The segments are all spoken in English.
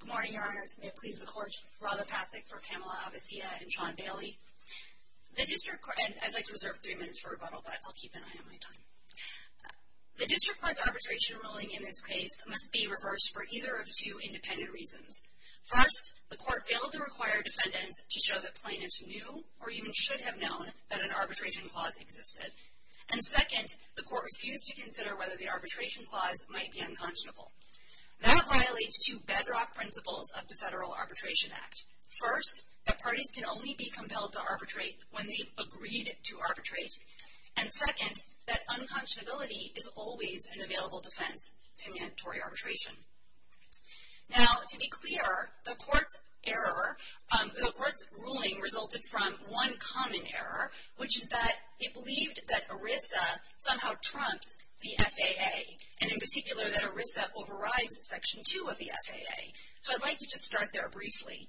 Good morning, Your Honors. May it please the Court, Rahla Pathak for Pamela Avecilla and Sean Bailey. The District Court, and I'd like to reserve three minutes for rebuttal, but I'll keep an eye on my time. The District Court's arbitration ruling in this case must be reversed for either of two independent reasons. First, the Court failed to require defendants to show that plaintiffs knew, or even should have known, that an arbitration clause existed. And second, the Court refused to consider whether the arbitration clause might be unconscionable. That violates two bedrock principles of the Federal Arbitration Act. First, that parties can only be compelled to arbitrate when they've agreed to arbitrate. And second, that unconscionability is always an available defense to mandatory arbitration. Now, to be clear, the Court's ruling resulted from one common error, which is that it believed that ERISA somehow trumps the FAA, and in particular that ERISA overrides Section 2 of the FAA. So I'd like to just start there briefly.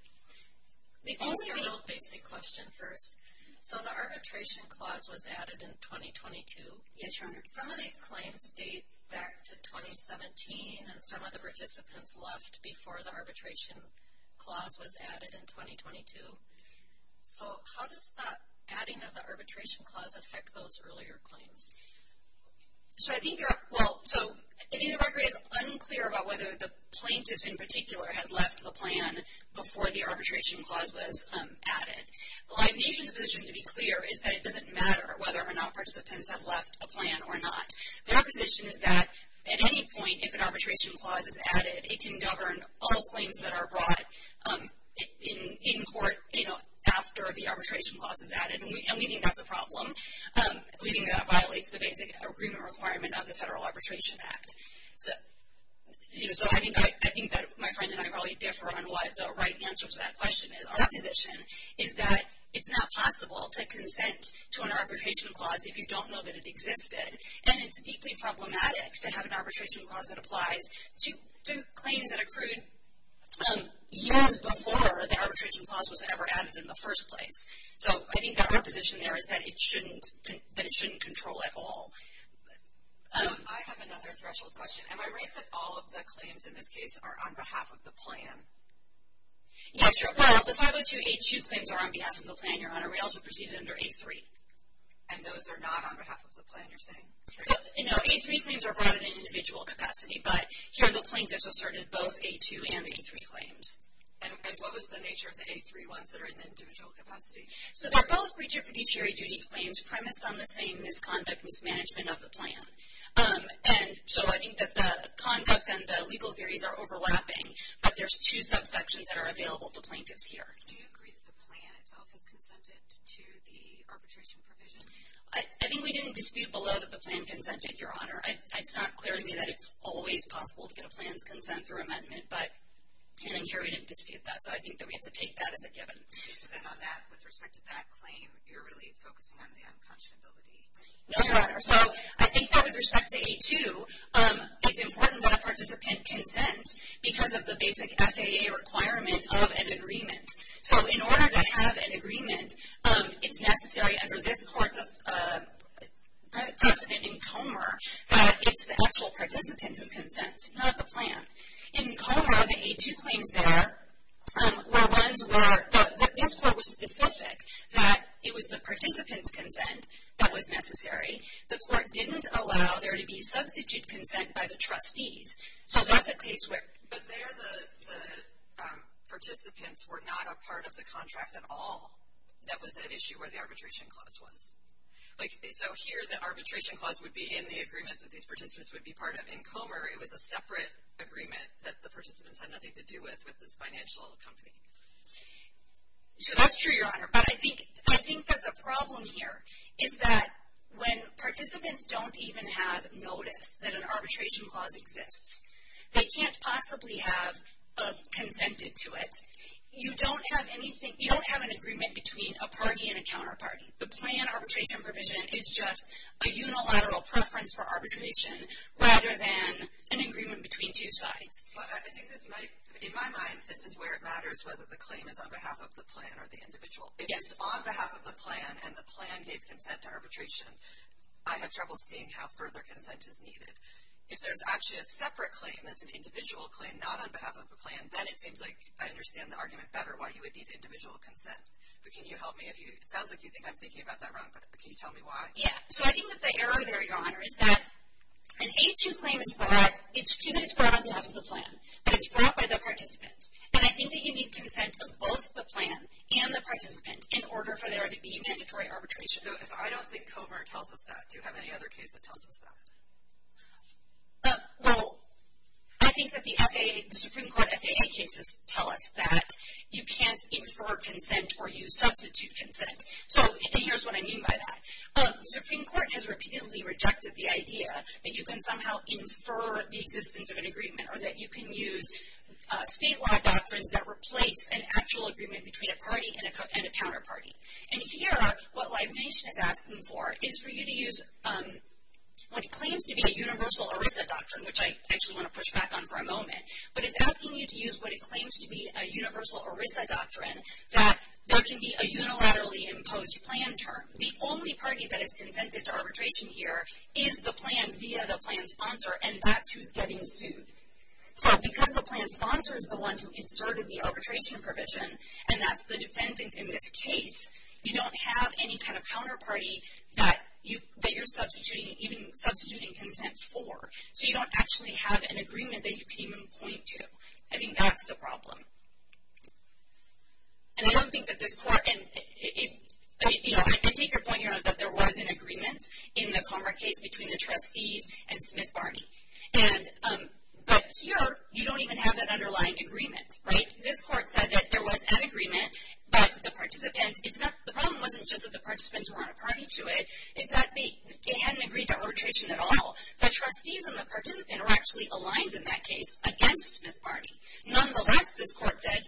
Let me ask you a little basic question first. So the arbitration clause was added in 2022. Yes, Your Honor. Some of these claims date back to 2017, and some of the participants left before the arbitration clause was added in 2022. So how does that adding of the arbitration clause affect those earlier claims? So I think you're—well, so, I think the record is unclear about whether the plaintiffs in particular had left the plan before the arbitration clause was added. The Liberation's position, to be clear, is that it doesn't matter whether or not participants have left a plan or not. Their position is that at any point, if an arbitration clause is added, it can govern all claims that are brought in court, you know, after the arbitration clause is added. And we think that's a problem. We think that violates the basic agreement requirement of the Federal Arbitration Act. So I think that my friend and I probably differ on what the right answer to that question is. Our position is that it's not possible to consent to an arbitration clause if you don't know that it existed. And it's deeply problematic to have an arbitration clause that applies to claims that accrued years before the arbitration clause was ever added in the first place. So I think our position there is that it shouldn't control at all. I have another threshold question. Am I right that all of the claims in this case are on behalf of the plan? Yes, Your Honor. Well, the 502A2 claims are on behalf of the plan, Your Honor. We also proceeded under A3. And those are not on behalf of the plan, you're saying? No, A3 claims are brought in an individual capacity, but here the plaintiffs asserted both A2 and A3 claims. And what was the nature of the A3 ones that are in the individual capacity? So they're both regificatory duty claims premised on the same misconduct mismanagement of the plan. And so I think that the conduct and the legal theories are overlapping, but there's two subsections that are available to plaintiffs here. Do you agree that the plan itself has consented to the arbitration provision? I think we didn't dispute below that the plan consented, Your Honor. It's not clear to me that it's always possible to get a plan's consent or amendment, but here we didn't dispute that. So I think that we have to take that as a given. So then on that, with respect to that claim, you're really focusing on the unconscionability? No, Your Honor. So I think that with respect to A2, it's important that a participant consent because of the basic FAA requirement of an agreement. So in order to have an agreement, it's necessary under this court's precedent in Comer that it's the actual participant who consents, not the plan. In Comer, the A2 claims there were ones where this court was specific that it was the participant's consent that was necessary. The court didn't allow there to be substitute consent by the trustees. But there the participants were not a part of the contract at all that was at issue where the arbitration clause was. So here the arbitration clause would be in the agreement that these participants would be part of. In Comer, it was a separate agreement that the participants had nothing to do with with this financial company. So that's true, Your Honor, but I think that the problem here is that when participants don't even have notice that an arbitration clause exists, they can't possibly have consented to it. You don't have an agreement between a party and a counterparty. The plan arbitration provision is just a unilateral preference for arbitration rather than an agreement between two sides. In my mind, this is where it matters whether the claim is on behalf of the plan or the individual. If it's on behalf of the plan and the plan gave consent to arbitration, I have trouble seeing how further consent is needed. If there's actually a separate claim that's an individual claim, not on behalf of the plan, then it seems like I understand the argument better why you would need individual consent. But can you help me? It sounds like you think I'm thinking about that wrong, but can you tell me why? Yeah, so I think that the error there, Your Honor, is that an A2 claim is brought, it's true that it's brought on behalf of the plan, but it's brought by the participant. And I think that you need consent of both the plan and the participant in order for there to be mandatory arbitration. If I don't think Comer tells us that, do you have any other case that tells us that? Well, I think that the Supreme Court FAA cases tell us that you can't infer consent or use substitute consent. And here's what I mean by that. The Supreme Court has repeatedly rejected the idea that you can somehow infer the existence of an agreement or that you can use statewide doctrines that replace an actual agreement between a party and a counterparty. And here, what Libation is asking for is for you to use what it claims to be a universal ERISA doctrine, which I actually want to push back on for a moment, but it's asking you to use what it claims to be a universal ERISA doctrine, that there can be a unilaterally imposed plan term. The only party that is consented to arbitration here is the plan via the plan sponsor, and that's who's getting sued. So because the plan sponsor is the one who inserted the arbitration provision, and that's the defendant in this case, you don't have any kind of counterparty that you're substituting, even substituting consent for. So you don't actually have an agreement that you can even point to. I think that's the problem. And I don't think that this court, and I take your point, you know, that there was an agreement in the Conrad case between the trustees and Smith-Barney. But here, you don't even have that underlying agreement, right? This court said that there was an agreement, but the problem wasn't just that the participants weren't a party to it, it's that they hadn't agreed to arbitration at all. The trustees and the participant are actually aligned in that case against Smith-Barney. Nonetheless, this court said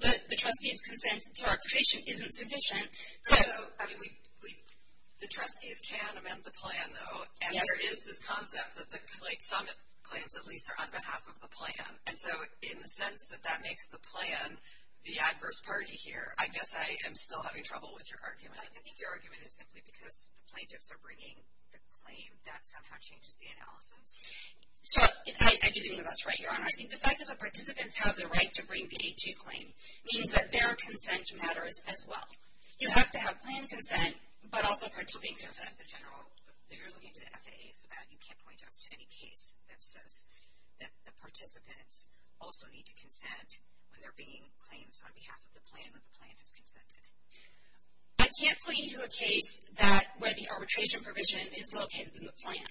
that the trustees' consent to arbitration isn't sufficient. So, I mean, the trustees can amend the plan, though. Yes. And there is this concept that, like, some claims at least are on behalf of the plan. And so in the sense that that makes the plan the adverse party here, I guess I am still having trouble with your argument. I think your argument is simply because the plaintiffs are bringing the claim. That somehow changes the analysis. So, I do think that that's right, Your Honor. I think the fact that the participants have the right to bring the A2 claim means that their consent matters as well. You have to have plan consent, but also participating consent. The general, you're looking to the FAA for that. You can't point us to any case that says that the participants also need to consent when they're bringing claims on behalf of the plan when the plan has consented. I can't point you to a case where the arbitration provision is located in the plan.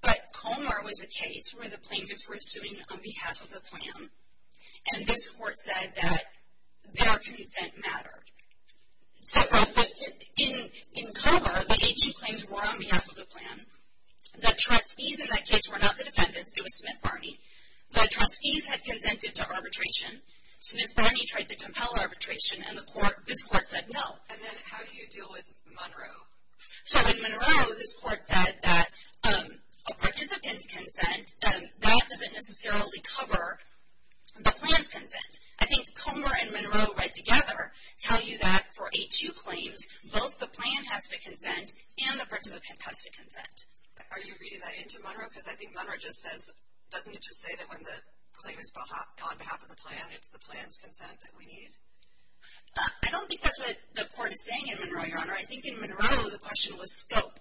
But Comer was a case where the plaintiffs were suing on behalf of the plan, and this court said that their consent mattered. In Comer, the A2 claims were on behalf of the plan. The trustees in that case were not the defendants. It was Smith-Barney. The trustees had consented to arbitration. Smith-Barney tried to compel arbitration, and this court said no. And then how do you deal with Monroe? So, in Monroe, this court said that a participant's consent, that doesn't necessarily cover the plan's consent. I think Comer and Monroe, right together, tell you that for A2 claims, both the plan has to consent and the participant has to consent. Are you reading that into Monroe? Because I think Monroe just says, doesn't it just say that when the claim is on behalf of the plan, it's the plan's consent that we need? I don't think that's what the court is saying in Monroe, Your Honor. I think in Monroe the question was scope.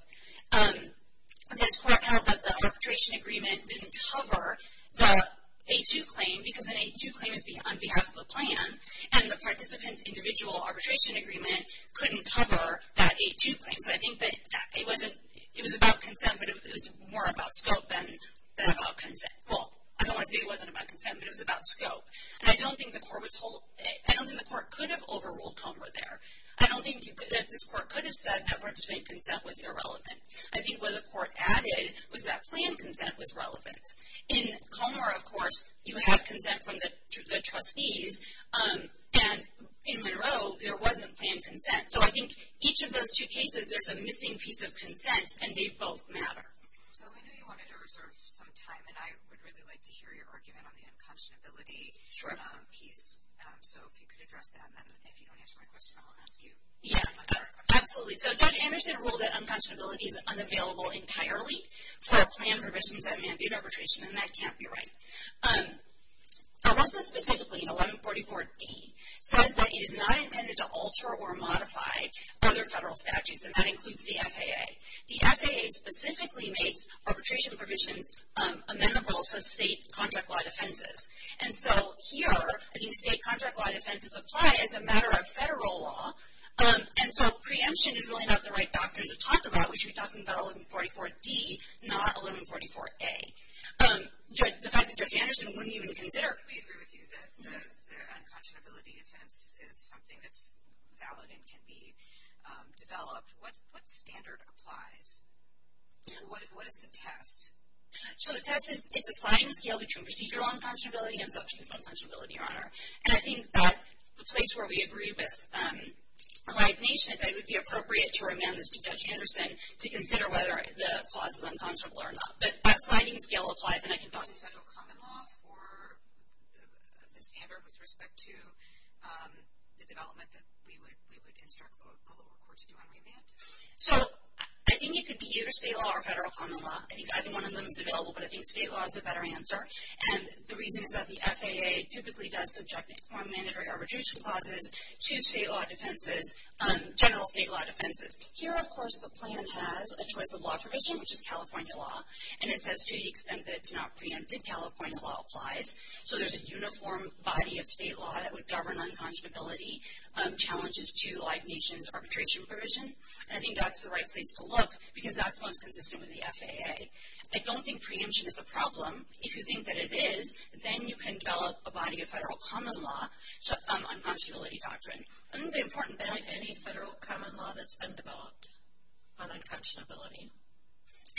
This court held that the arbitration agreement didn't cover the A2 claim because an A2 claim is on behalf of the plan, and the participant's individual arbitration agreement couldn't cover that A2 claim. So, I think that it was about consent, but it was more about scope than about consent. Well, I don't want to say it wasn't about consent, but it was about scope. And I don't think the court could have overruled Comer there. I don't think that this court could have said that Bernstein's consent was irrelevant. I think what the court added was that plan consent was relevant. In Comer, of course, you had consent from the trustees, and in Monroe there wasn't plan consent. So, I think each of those two cases, there's a missing piece of consent, and they both matter. So, I know you wanted to reserve some time, and I would really like to hear your argument on the unconscionability piece. So, if you could address that, and then if you don't answer my question, I'll ask you. Yeah, absolutely. So, Judge Anderson ruled that unconscionability is unavailable entirely for plan provisions that mandate arbitration, and that can't be right. ARRESTA specifically, in 1144D, says that it is not intended to alter or modify other federal statutes, and that includes the FAA. The FAA specifically makes arbitration provisions amenable to state contract law defenses. And so, here, I think state contract law defenses apply as a matter of federal law, and so preemption is really not the right doctrine to talk about. We should be talking about 1144D, not 1144A. The fact that Judge Anderson wouldn't even consider it. We agree with you that the unconscionability defense is something that's valid and can be developed. What standard applies? What is the test? So, the test is a sliding scale between procedural unconscionability and subjective unconscionability, Your Honor. And I think that the place where we agree with Life Nation is that it would be appropriate to remand this to Judge Anderson to consider whether the clause is unconscionable or not. But that sliding scale applies, and I can talk to federal common law for the standard with respect to the development that we would instruct the lower court to do on remand. So, I think it could be either state law or federal common law. I think either one of them is available, but I think state law is a better answer. And the reason is that the FAA typically does subject the form manager arbitration clauses to state law defenses, general state law defenses. Here, of course, the plan has a choice of law provision, which is California law. And it says to the extent that it's not preempted, California law applies. So, there's a uniform body of state law that would govern unconscionability challenges to Life Nation's arbitration provision. And I think that's the right place to look because that's most consistent with the FAA. I don't think preemption is a problem. If you think that it is, then you can develop a body of federal common law on unconscionability doctrine. I think the important point, any federal common law that's been developed on unconscionability.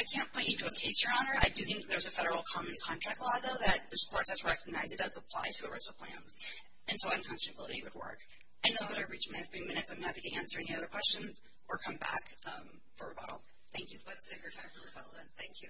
I can't point you to a case, Your Honor. I do think there's a federal common contract law, though, that this court has recognized it does apply to the rest of the plans. And so, unconscionability would work. I know that I've reached my three minutes. I'm happy to answer any other questions or come back for rebuttal. Thank you. Let's take our time for rebuttal, then. Thank you.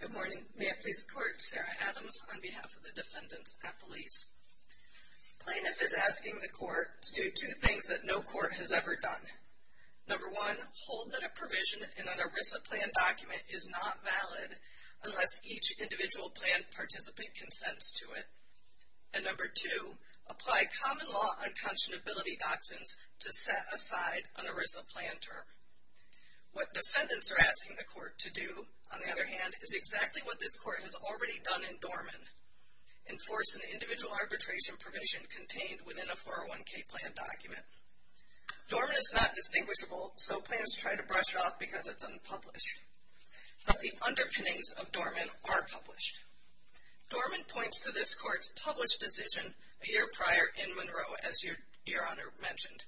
Good morning. May it please the Court, Sarah Adams on behalf of the defendants at police. Plaintiff is asking the court to do two things that no court has ever done. Number one, hold that a provision in an ERISA plan document is not valid unless each individual plan participant consents to it. And number two, apply common law unconscionability doctrines to set aside an ERISA plan term. What defendants are asking the court to do, on the other hand, is exactly what this court has already done in Dorman, enforce an individual arbitration provision contained within a 401k plan document. Dorman is not distinguishable, so plaintiffs try to brush it off because it's unpublished. But the underpinnings of Dorman are published. Dorman points to this court's published decision a year prior in Monroe, as Your Honor mentioned.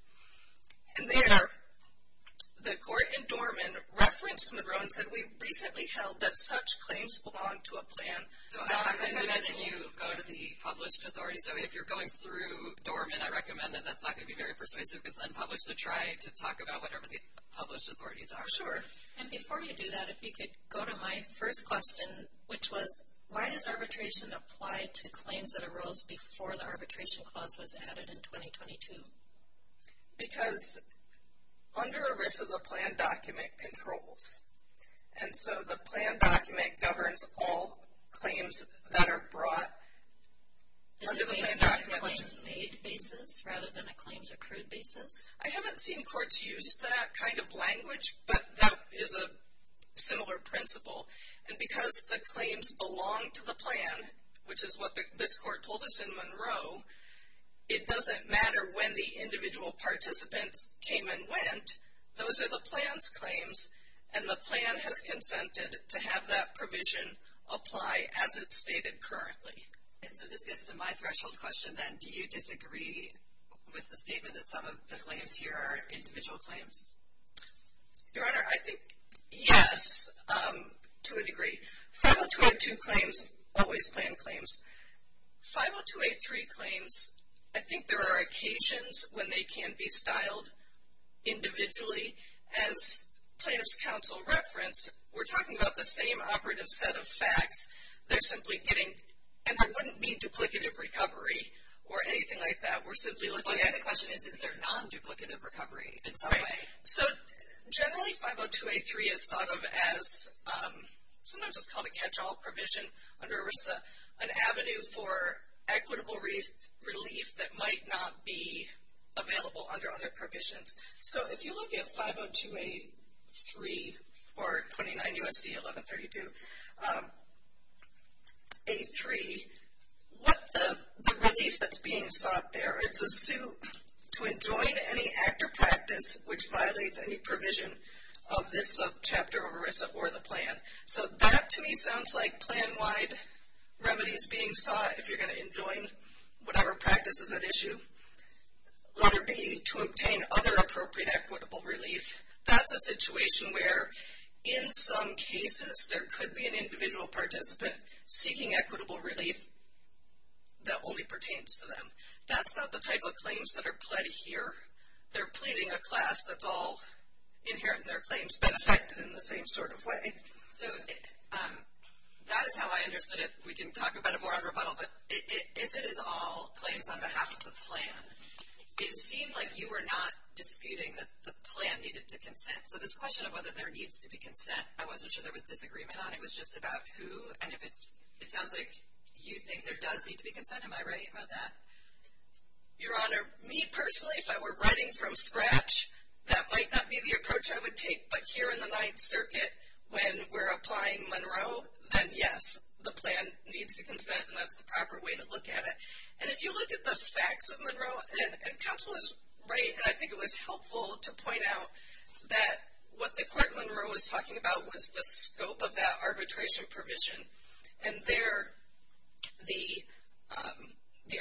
And there, the court in Dorman referenced Monroe and said, we recently held that such claims belong to a plan. So I'm recommending you go to the published authority. So if you're going through Dorman, I recommend that that's not going to be very persuasive because it's unpublished. So try to talk about whatever the published authorities are. Sure. And before you do that, if you could go to my first question, which was why does arbitration apply to claims that arose before the arbitration clause was added in 2022? Because under ERISA, the plan document controls. And so the plan document governs all claims that are brought under the plan document. Is it a claims made basis rather than a claims accrued basis? I haven't seen courts use that kind of language, but that is a similar principle. And because the claims belong to the plan, which is what this court told us in Monroe, it doesn't matter when the individual participants came and went. Those are the plan's claims. And the plan has consented to have that provision apply as it's stated currently. And so this gets to my threshold question then. Do you disagree with the statement that some of the claims here are individual claims? Your Honor, I think, yes, to a degree. 502A2 claims, always plan claims. 502A3 claims, I think there are occasions when they can be styled individually. As plaintiff's counsel referenced, we're talking about the same operative set of facts. They're simply getting, and I wouldn't mean duplicative recovery or anything like that. We're simply looking at. But the question is, is there non-duplicative recovery in some way? So generally, 502A3 is thought of as, sometimes it's called a catch-all provision under ERISA, an avenue for equitable relief that might not be available under other provisions. So if you look at 502A3 or 29 U.S.C. 1132A3, what the relief that's being sought there, it's a suit to enjoin any act or practice which violates any provision of this chapter of ERISA or the plan. So that, to me, sounds like plan-wide remedies being sought, if you're going to enjoin whatever practice is at issue, whether it be to obtain other appropriate equitable relief. That's a situation where, in some cases, there could be an individual participant seeking equitable relief that only pertains to them. That's not the type of claims that are pled here. They're pleading a class that's all inherent in their claims, but affected in the same sort of way. So that is how I understood it. We can talk about it more at rebuttal, but if it is all claims on behalf of the plan, it seemed like you were not disputing that the plan needed to consent. So this question of whether there needs to be consent, I wasn't sure there was disagreement on it. It was just about who, and if it sounds like you think there does need to be consent, am I right about that? Your Honor, me personally, if I were writing from scratch, that might not be the approach I would take. But here in the Ninth Circuit, when we're applying Monroe, then yes, the plan needs to consent, and that's the proper way to look at it. And if you look at the facts of Monroe, and counsel is right, and I think it was helpful to point out that what the court in Monroe was talking about was the scope of that arbitration provision. And there, the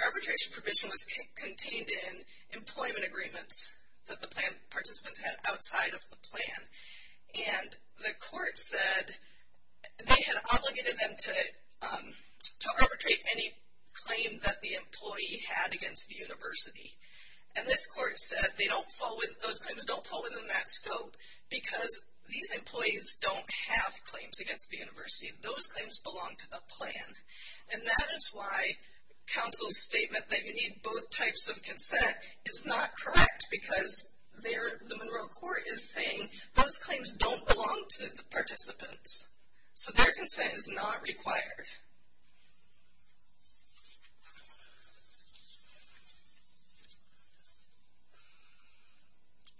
arbitration provision was contained in employment agreements that the plan participants had outside of the plan. And the court said they had obligated them to arbitrate any claim that the employee had against the university. And this court said those claims don't fall within that scope because these employees don't have claims against the university. Those claims belong to the plan. And that is why counsel's statement that you need both types of consent is not correct because the Monroe court is saying those claims don't belong to the participants. So their consent is not required.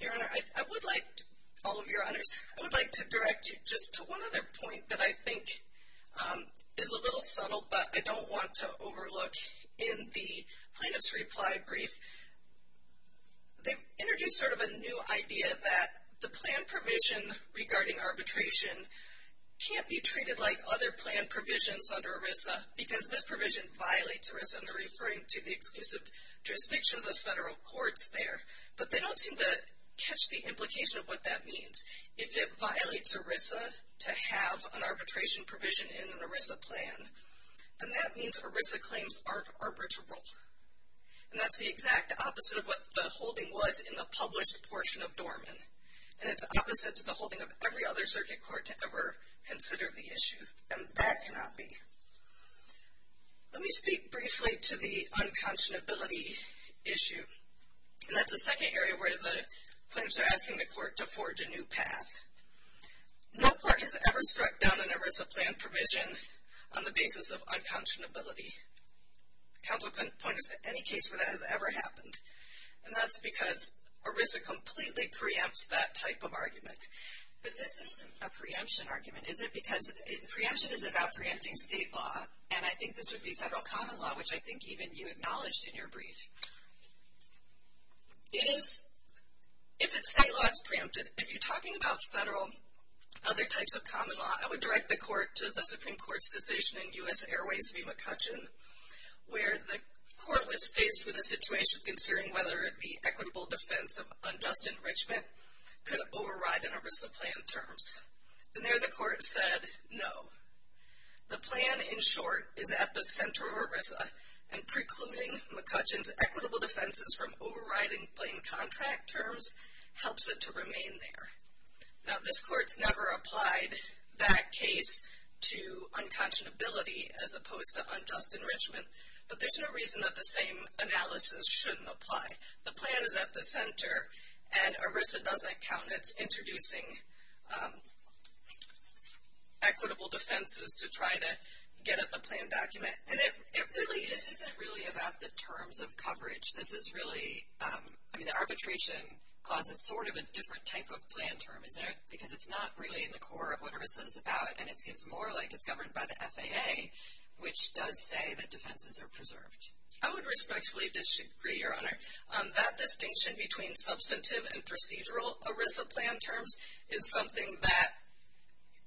Your Honor, I would like to, all of your honors, I would like to direct you just to one other point that I think is a little subtle, but I don't want to overlook in the plaintiff's reply brief. They introduced sort of a new idea that the plan provision regarding arbitration can't be treated like other plan provisions under ERISA because this provision violates ERISA, and they're referring to the exclusive jurisdiction of the federal courts there. But they don't seem to catch the implication of what that means. If it violates ERISA to have an arbitration provision in an ERISA plan, then that means ERISA claims aren't arbitral. And that's the exact opposite of what the holding was in the published portion of Dorman. And it's opposite to the holding of every other circuit court to ever consider the issue. And that cannot be. Let me speak briefly to the unconscionability issue. And that's the second area where the plaintiffs are asking the court to forge a new path. No court has ever struck down an ERISA plan provision on the basis of unconscionability. Counsel couldn't point us to any case where that has ever happened. And that's because ERISA completely preempts that type of argument. But this isn't a preemption argument. Is it because preemption is about preempting state law, and I think this would be federal common law, which I think even you acknowledged in your brief. If it's state law, it's preempted. If you're talking about federal, other types of common law, I would direct the court to the Supreme Court's decision in U.S. Airways v. McCutcheon where the court was faced with a situation considering whether the equitable defense of unjust enrichment could override an ERISA plan terms. And there the court said no. The plan, in short, is at the center of ERISA. And precluding McCutcheon's equitable defenses from overriding plain contract terms helps it to remain there. Now, this court's never applied that case to unconscionability as opposed to unjust enrichment. But there's no reason that the same analysis shouldn't apply. The plan is at the center, and ERISA doesn't count it introducing equitable defenses to try to get at the plan document. And it really – This isn't really about the terms of coverage. This is really – I mean, the arbitration clause is sort of a different type of plan term, isn't it? Because it's not really in the core of what ERISA is about, and it seems more like it's governed by the FAA, which does say that defenses are preserved. I would respectfully disagree, Your Honor. That distinction between substantive and procedural ERISA plan terms is something that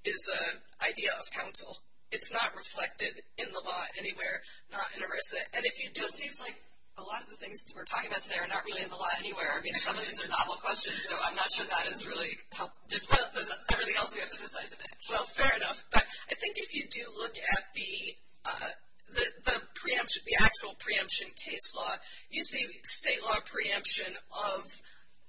is an idea of counsel. It's not reflected in the law anywhere, not in ERISA. And if you do – It seems like a lot of the things we're talking about today are not really in the law anywhere. I mean, some of these are novel questions, so I'm not sure that is really how different than everything else we have to decide today. Well, fair enough. But I think if you do look at the preemption, the actual preemption case law, you see state law preemption of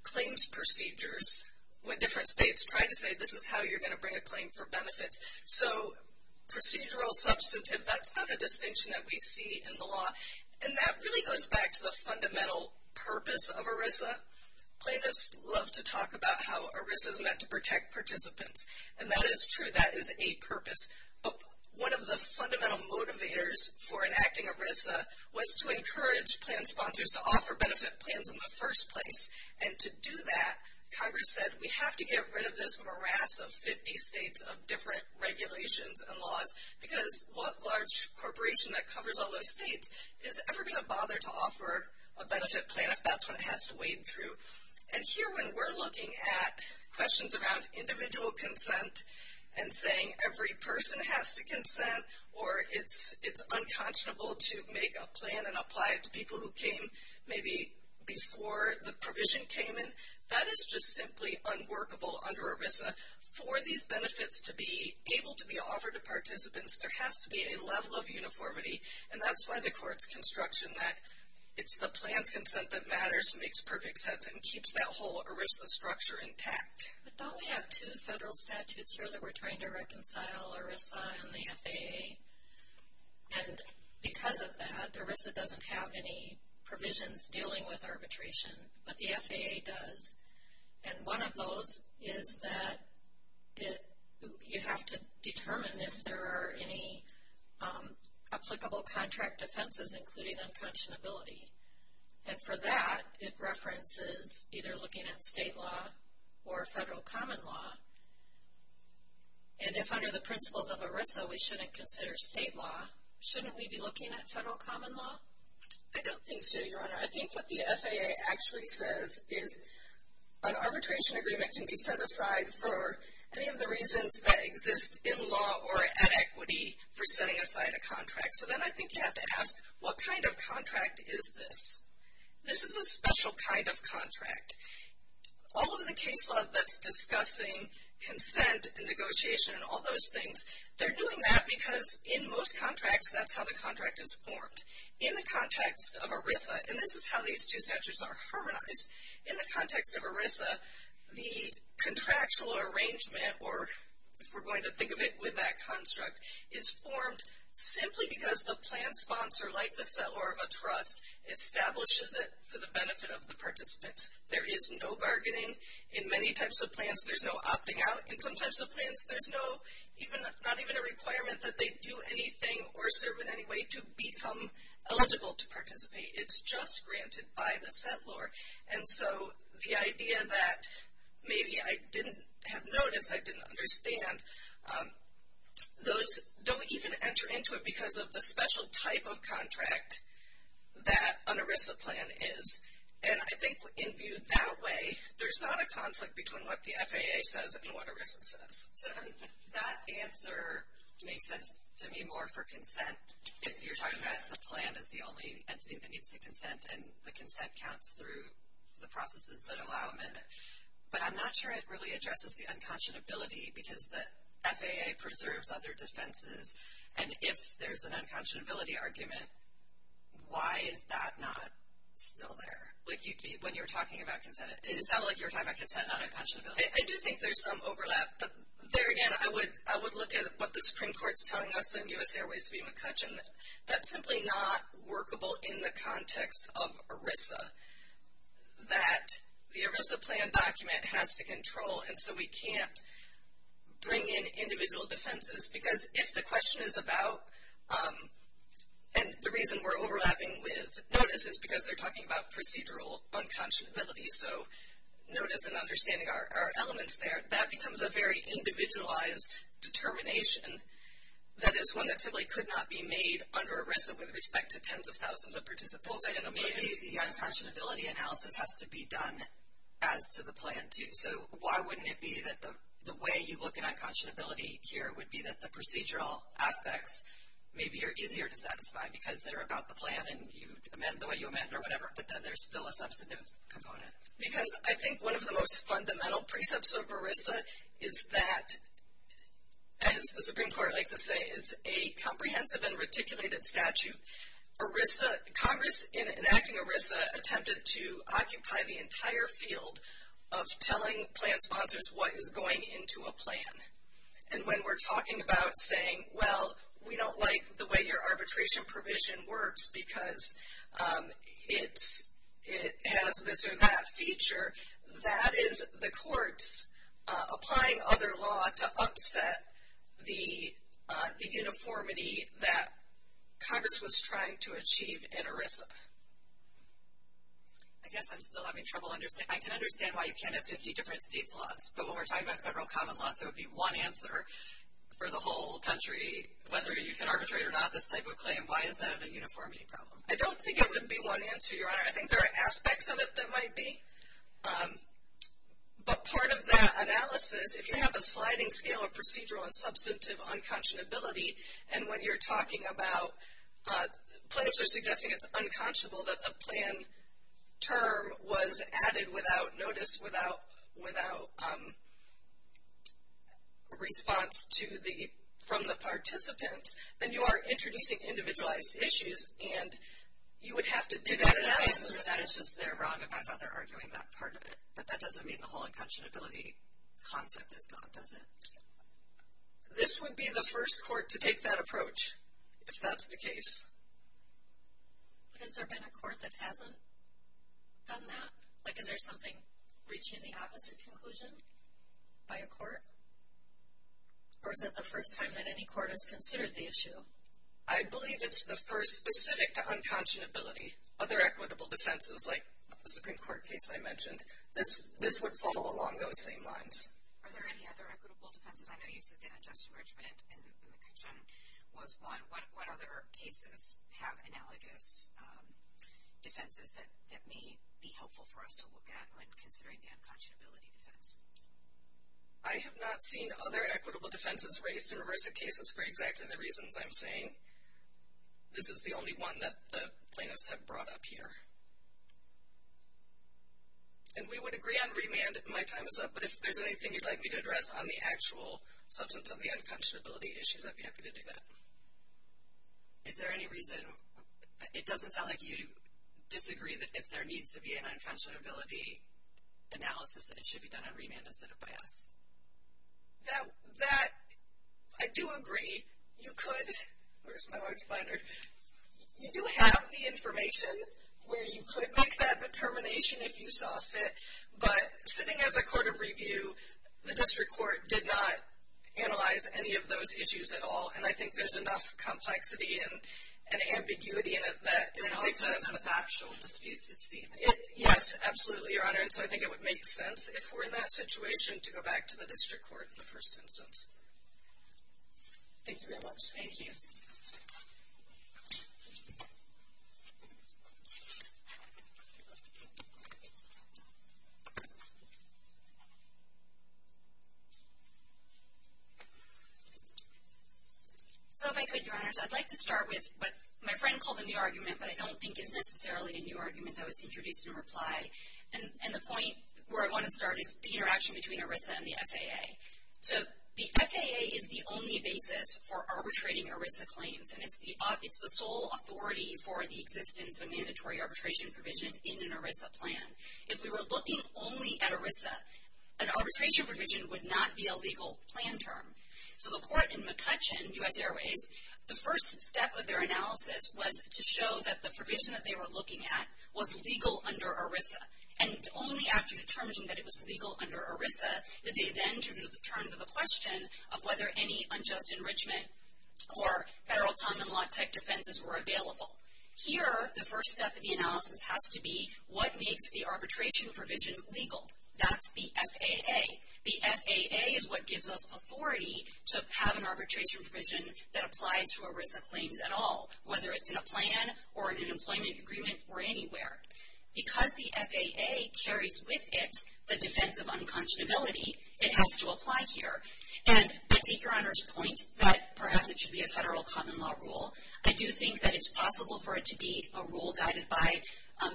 claims procedures when different states try to say this is how you're going to bring a claim for benefits. So procedural, substantive, that's not a distinction that we see in the law. And that really goes back to the fundamental purpose of ERISA. Plaintiffs love to talk about how ERISA is meant to protect participants, and that is true, that is a purpose. But one of the fundamental motivators for enacting ERISA was to encourage plan sponsors to offer benefit plans in the first place. And to do that, Congress said we have to get rid of this morass of 50 states of different regulations and laws because what large corporation that covers all those states is ever going to bother to offer a benefit plan if that's what it has to wade through. And here when we're looking at questions around individual consent and saying every person has to consent or it's unconscionable to make a plan and apply it to people who came maybe before the provision came in, that is just simply unworkable under ERISA. For these benefits to be able to be offered to participants, there has to be a level of uniformity. And that's why the court's construction that it's the plan's consent that matters and makes perfect sense and keeps that whole ERISA structure intact. But don't we have two federal statutes here that we're trying to reconcile, ERISA and the FAA? And because of that, ERISA doesn't have any provisions dealing with arbitration, but the FAA does. And one of those is that you have to determine if there are any applicable contract offenses including unconscionability. And for that, it references either looking at state law or federal common law. And if under the principles of ERISA we shouldn't consider state law, shouldn't we be looking at federal common law? I don't think so, Your Honor. I think what the FAA actually says is an arbitration agreement can be set aside for any of the reasons that exist in law or at equity for setting aside a contract. So then I think you have to ask, what kind of contract is this? This is a special kind of contract. All of the case law that's discussing consent and negotiation and all those things, they're doing that because in most contracts, that's how the contract is formed. In the context of ERISA, and this is how these two statutes are harmonized, in the context of ERISA, the contractual arrangement, or if we're going to think of it with that construct, is formed simply because the plan sponsor, like the seller of a trust, establishes it for the benefit of the participants. There is no bargaining in many types of plans. There's no opting out in some types of plans. There's not even a requirement that they do anything or serve in any way to become eligible to participate. It's just granted by the settlor. And so the idea that maybe I didn't have noticed, I didn't understand, those don't even enter into it because of the special type of contract that an ERISA plan is. And I think in viewed that way, there's not a conflict between what the FAA says and what ERISA says. So that answer makes sense to me more for consent if you're talking about the plan as the only entity that needs to consent and the consent counts through the processes that allow them in. But I'm not sure it really addresses the unconscionability because the FAA preserves other defenses. And if there's an unconscionability argument, why is that not still there? Like when you were talking about consent, it sounded like you were talking about consent, not unconscionability. I do think there's some overlap. But there again, I would look at what the Supreme Court's telling us in U.S. Airways v. McCutcheon. That's simply not workable in the context of ERISA, that the ERISA plan document has to control. And so we can't bring in individual defenses. Because if the question is about, and the reason we're overlapping with notice is because they're talking about procedural unconscionability. So notice and understanding are elements there. That becomes a very individualized determination that is one that simply could not be made under ERISA with respect to tens of thousands of participants. Maybe the unconscionability analysis has to be done as to the plan, too. So why wouldn't it be that the way you look at unconscionability here would be that the procedural aspects maybe are easier to satisfy. Because they're about the plan and you amend the way you amend or whatever. But then there's still a substantive component. Because I think one of the most fundamental precepts of ERISA is that, as the Supreme Court likes to say, is a comprehensive and reticulated statute. Congress, in enacting ERISA, attempted to occupy the entire field of telling plan sponsors what is going into a plan. And when we're talking about saying, well, we don't like the way your arbitration provision works because it has this or that feature, that is the courts applying other law to upset the uniformity that Congress was trying to achieve in ERISA. I guess I'm still having trouble understanding. I can understand why you can't have 50 different states' laws. But when we're talking about federal common laws, there would be one answer for the whole country, whether you can arbitrate or not, this type of claim. Why is that a uniformity problem? I don't think it would be one answer, Your Honor. I think there are aspects of it that might be. But part of that analysis, if you have a sliding scale of procedural and substantive unconscionability, and when you're talking about plaintiffs are suggesting it's unconscionable that the plan term was added without notice, without response from the participants, then you are introducing individualized issues. And you would have to do that analysis. That is just they're wrong about how they're arguing that part of it. But that doesn't mean the whole unconscionability concept is gone, does it? This would be the first court to take that approach, if that's the case. But has there been a court that hasn't done that? Like, is there something reaching the opposite conclusion by a court? Or is it the first time that any court has considered the issue? I believe it's the first specific to unconscionability. Other equitable defenses, like the Supreme Court case I mentioned, this would follow along those same lines. Are there any other equitable defenses? I know you said that in Justice Richmond and McCutcheon was one. But what other cases have analogous defenses that may be helpful for us to look at when considering the unconscionability defense? I have not seen other equitable defenses raised in reverse cases for exactly the reasons I'm saying. This is the only one that the plaintiffs have brought up here. And we would agree on remand. My time is up. But if there's anything you'd like me to address on the actual substance of the unconscionability issues, I'd be happy to do that. Is there any reason? It doesn't sound like you disagree that if there needs to be an unconscionability analysis, that it should be done on remand instead of by us. That, I do agree. You could, where's my large binder? You do have the information where you could make that determination if you saw fit. But sitting as a court of review, the district court did not analyze any of those issues at all. And I think there's enough complexity and ambiguity in it that it makes sense. And also enough factual disputes, it seems. Yes, absolutely, Your Honor. And so I think it would make sense if we're in that situation to go back to the district court in the first instance. Thank you very much. Thank you. So if I could, Your Honor. So I'd like to start with what my friend called a new argument, but I don't think is necessarily a new argument that was introduced in reply. And the point where I want to start is the interaction between ERISA and the FAA. So the FAA is the only basis for arbitrating ERISA claims, and it's the sole authority for the existence of a mandatory arbitration provision in an ERISA plan. If we were looking only at ERISA, an arbitration provision would not be a legal plan term. So the court in McCutcheon, U.S. Airways, the first step of their analysis was to show that the provision that they were looking at was legal under ERISA. And only after determining that it was legal under ERISA did they then turn to the question of whether any unjust enrichment or federal common law type defenses were available. Here, the first step of the analysis has to be what makes the arbitration provision legal. That's the FAA. The FAA is what gives us authority to have an arbitration provision that applies to ERISA claims at all, whether it's in a plan or in an employment agreement or anywhere. Because the FAA carries with it the defense of unconscionability, it has to apply here. And I take Your Honor's point that perhaps it should be a federal common law rule. I do think that it's possible for it to be a rule guided by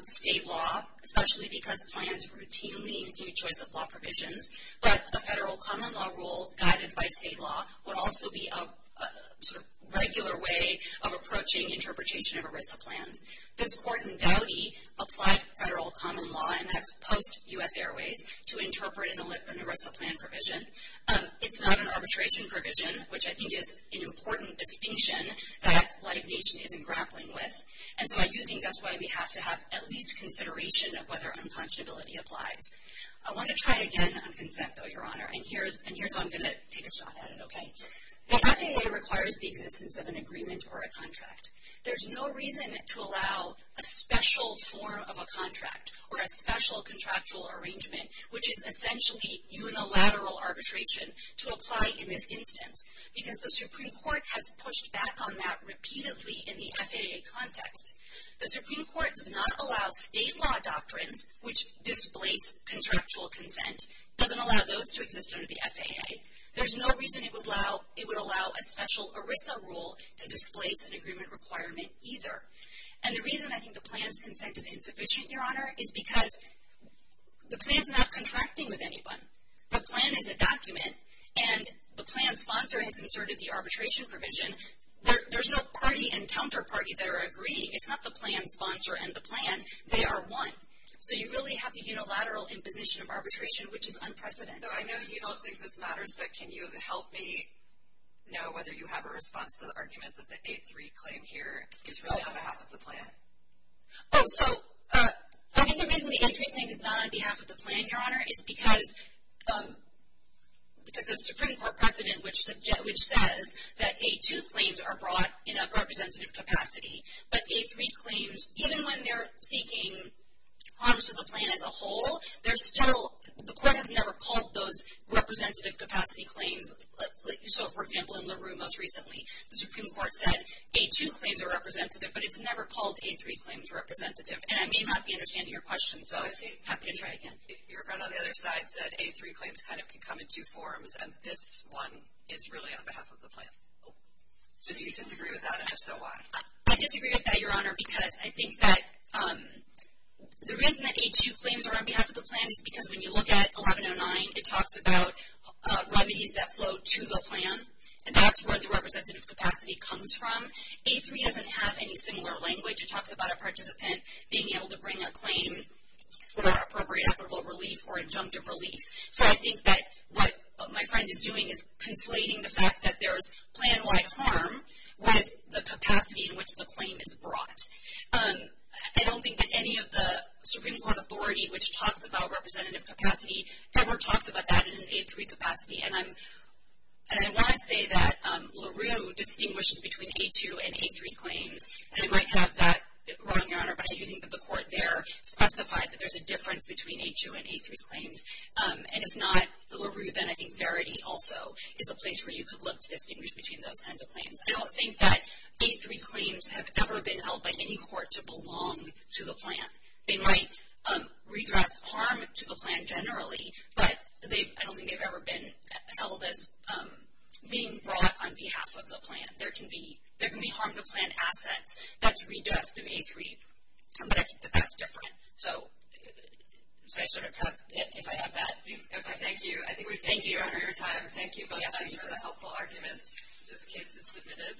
state law, especially because plans routinely include choice of law provisions. But a federal common law rule guided by state law would also be a sort of regular way of approaching interpretation of ERISA plans. This court in Dowdy applied federal common law, and that's post-U.S. Airways, to interpret an ERISA plan provision. It's not an arbitration provision, which I think is an important distinction that Life Nation isn't grappling with. And so I do think that's why we have to have at least consideration of whether unconscionability applies. I want to try again on consent, though, Your Honor, and here's how I'm going to take a shot at it. The FAA requires the existence of an agreement or a contract. There's no reason to allow a special form of a contract or a special contractual arrangement, which is essentially unilateral arbitration, to apply in this instance, because the Supreme Court has pushed back on that repeatedly in the FAA context. The Supreme Court does not allow state law doctrines which displace contractual consent. It doesn't allow those to exist under the FAA. There's no reason it would allow a special ERISA rule to displace an agreement requirement either. And the reason I think the plan's consent is insufficient, Your Honor, is because the plan's not contracting with anyone. The plan is a document, and the plan sponsor has inserted the arbitration provision. There's no party and counterparty that are agreeing. It's not the plan sponsor and the plan. They are one. So you really have the unilateral imposition of arbitration, which is unprecedented. I know you don't think this matters, but can you help me know whether you have a response to the argument that the A-3 claim here is really on behalf of the plan? Oh, so I think the reason the A-3 claim is not on behalf of the plan, Your Honor, is because the Supreme Court precedent which says that A-2 claims are brought in a representative capacity, but A-3 claims, even when they're seeking harm to the plan as a whole, the court has never called those representative capacity claims. So, for example, in LaRue most recently, the Supreme Court said A-2 claims are representative, but it's never called A-3 claims representative. And I may not be understanding your question, so I'm happy to try again. Your friend on the other side said A-3 claims kind of can come in two forms, and this one is really on behalf of the plan. So do you disagree with that, and if so, why? I disagree with that, Your Honor, because I think that the reason that A-2 claims are on behalf of the plan is because when you look at 1109, it talks about remedies that flow to the plan, and that's where the representative capacity comes from. A-3 doesn't have any similar language. It talks about a participant being able to bring a claim for appropriate equitable relief or injunctive relief. So I think that what my friend is doing is conflating the fact that there is plan-wide harm with the capacity in which the claim is brought. I don't think that any of the Supreme Court authority which talks about representative capacity ever talks about that in an A-3 capacity, and I want to say that LaRue distinguishes between A-2 and A-3 claims, and I might have that wrong, Your Honor, but I do think that the court there specified that there's a difference between A-2 and A-3 claims, and if not LaRue, then I think Verity also is a place where you could look and distinguish between those kinds of claims. I don't think that A-3 claims have ever been held by any court to belong to the plan. They might redress harm to the plan generally, but I don't think they've ever been held as being brought on behalf of the plan. There can be harm to plan assets that's redressed in A-3, but I think that that's different. So I sort of have that. Thank you. Thank you, Your Honor. Thank you both sides for the helpful arguments. This case is submitted.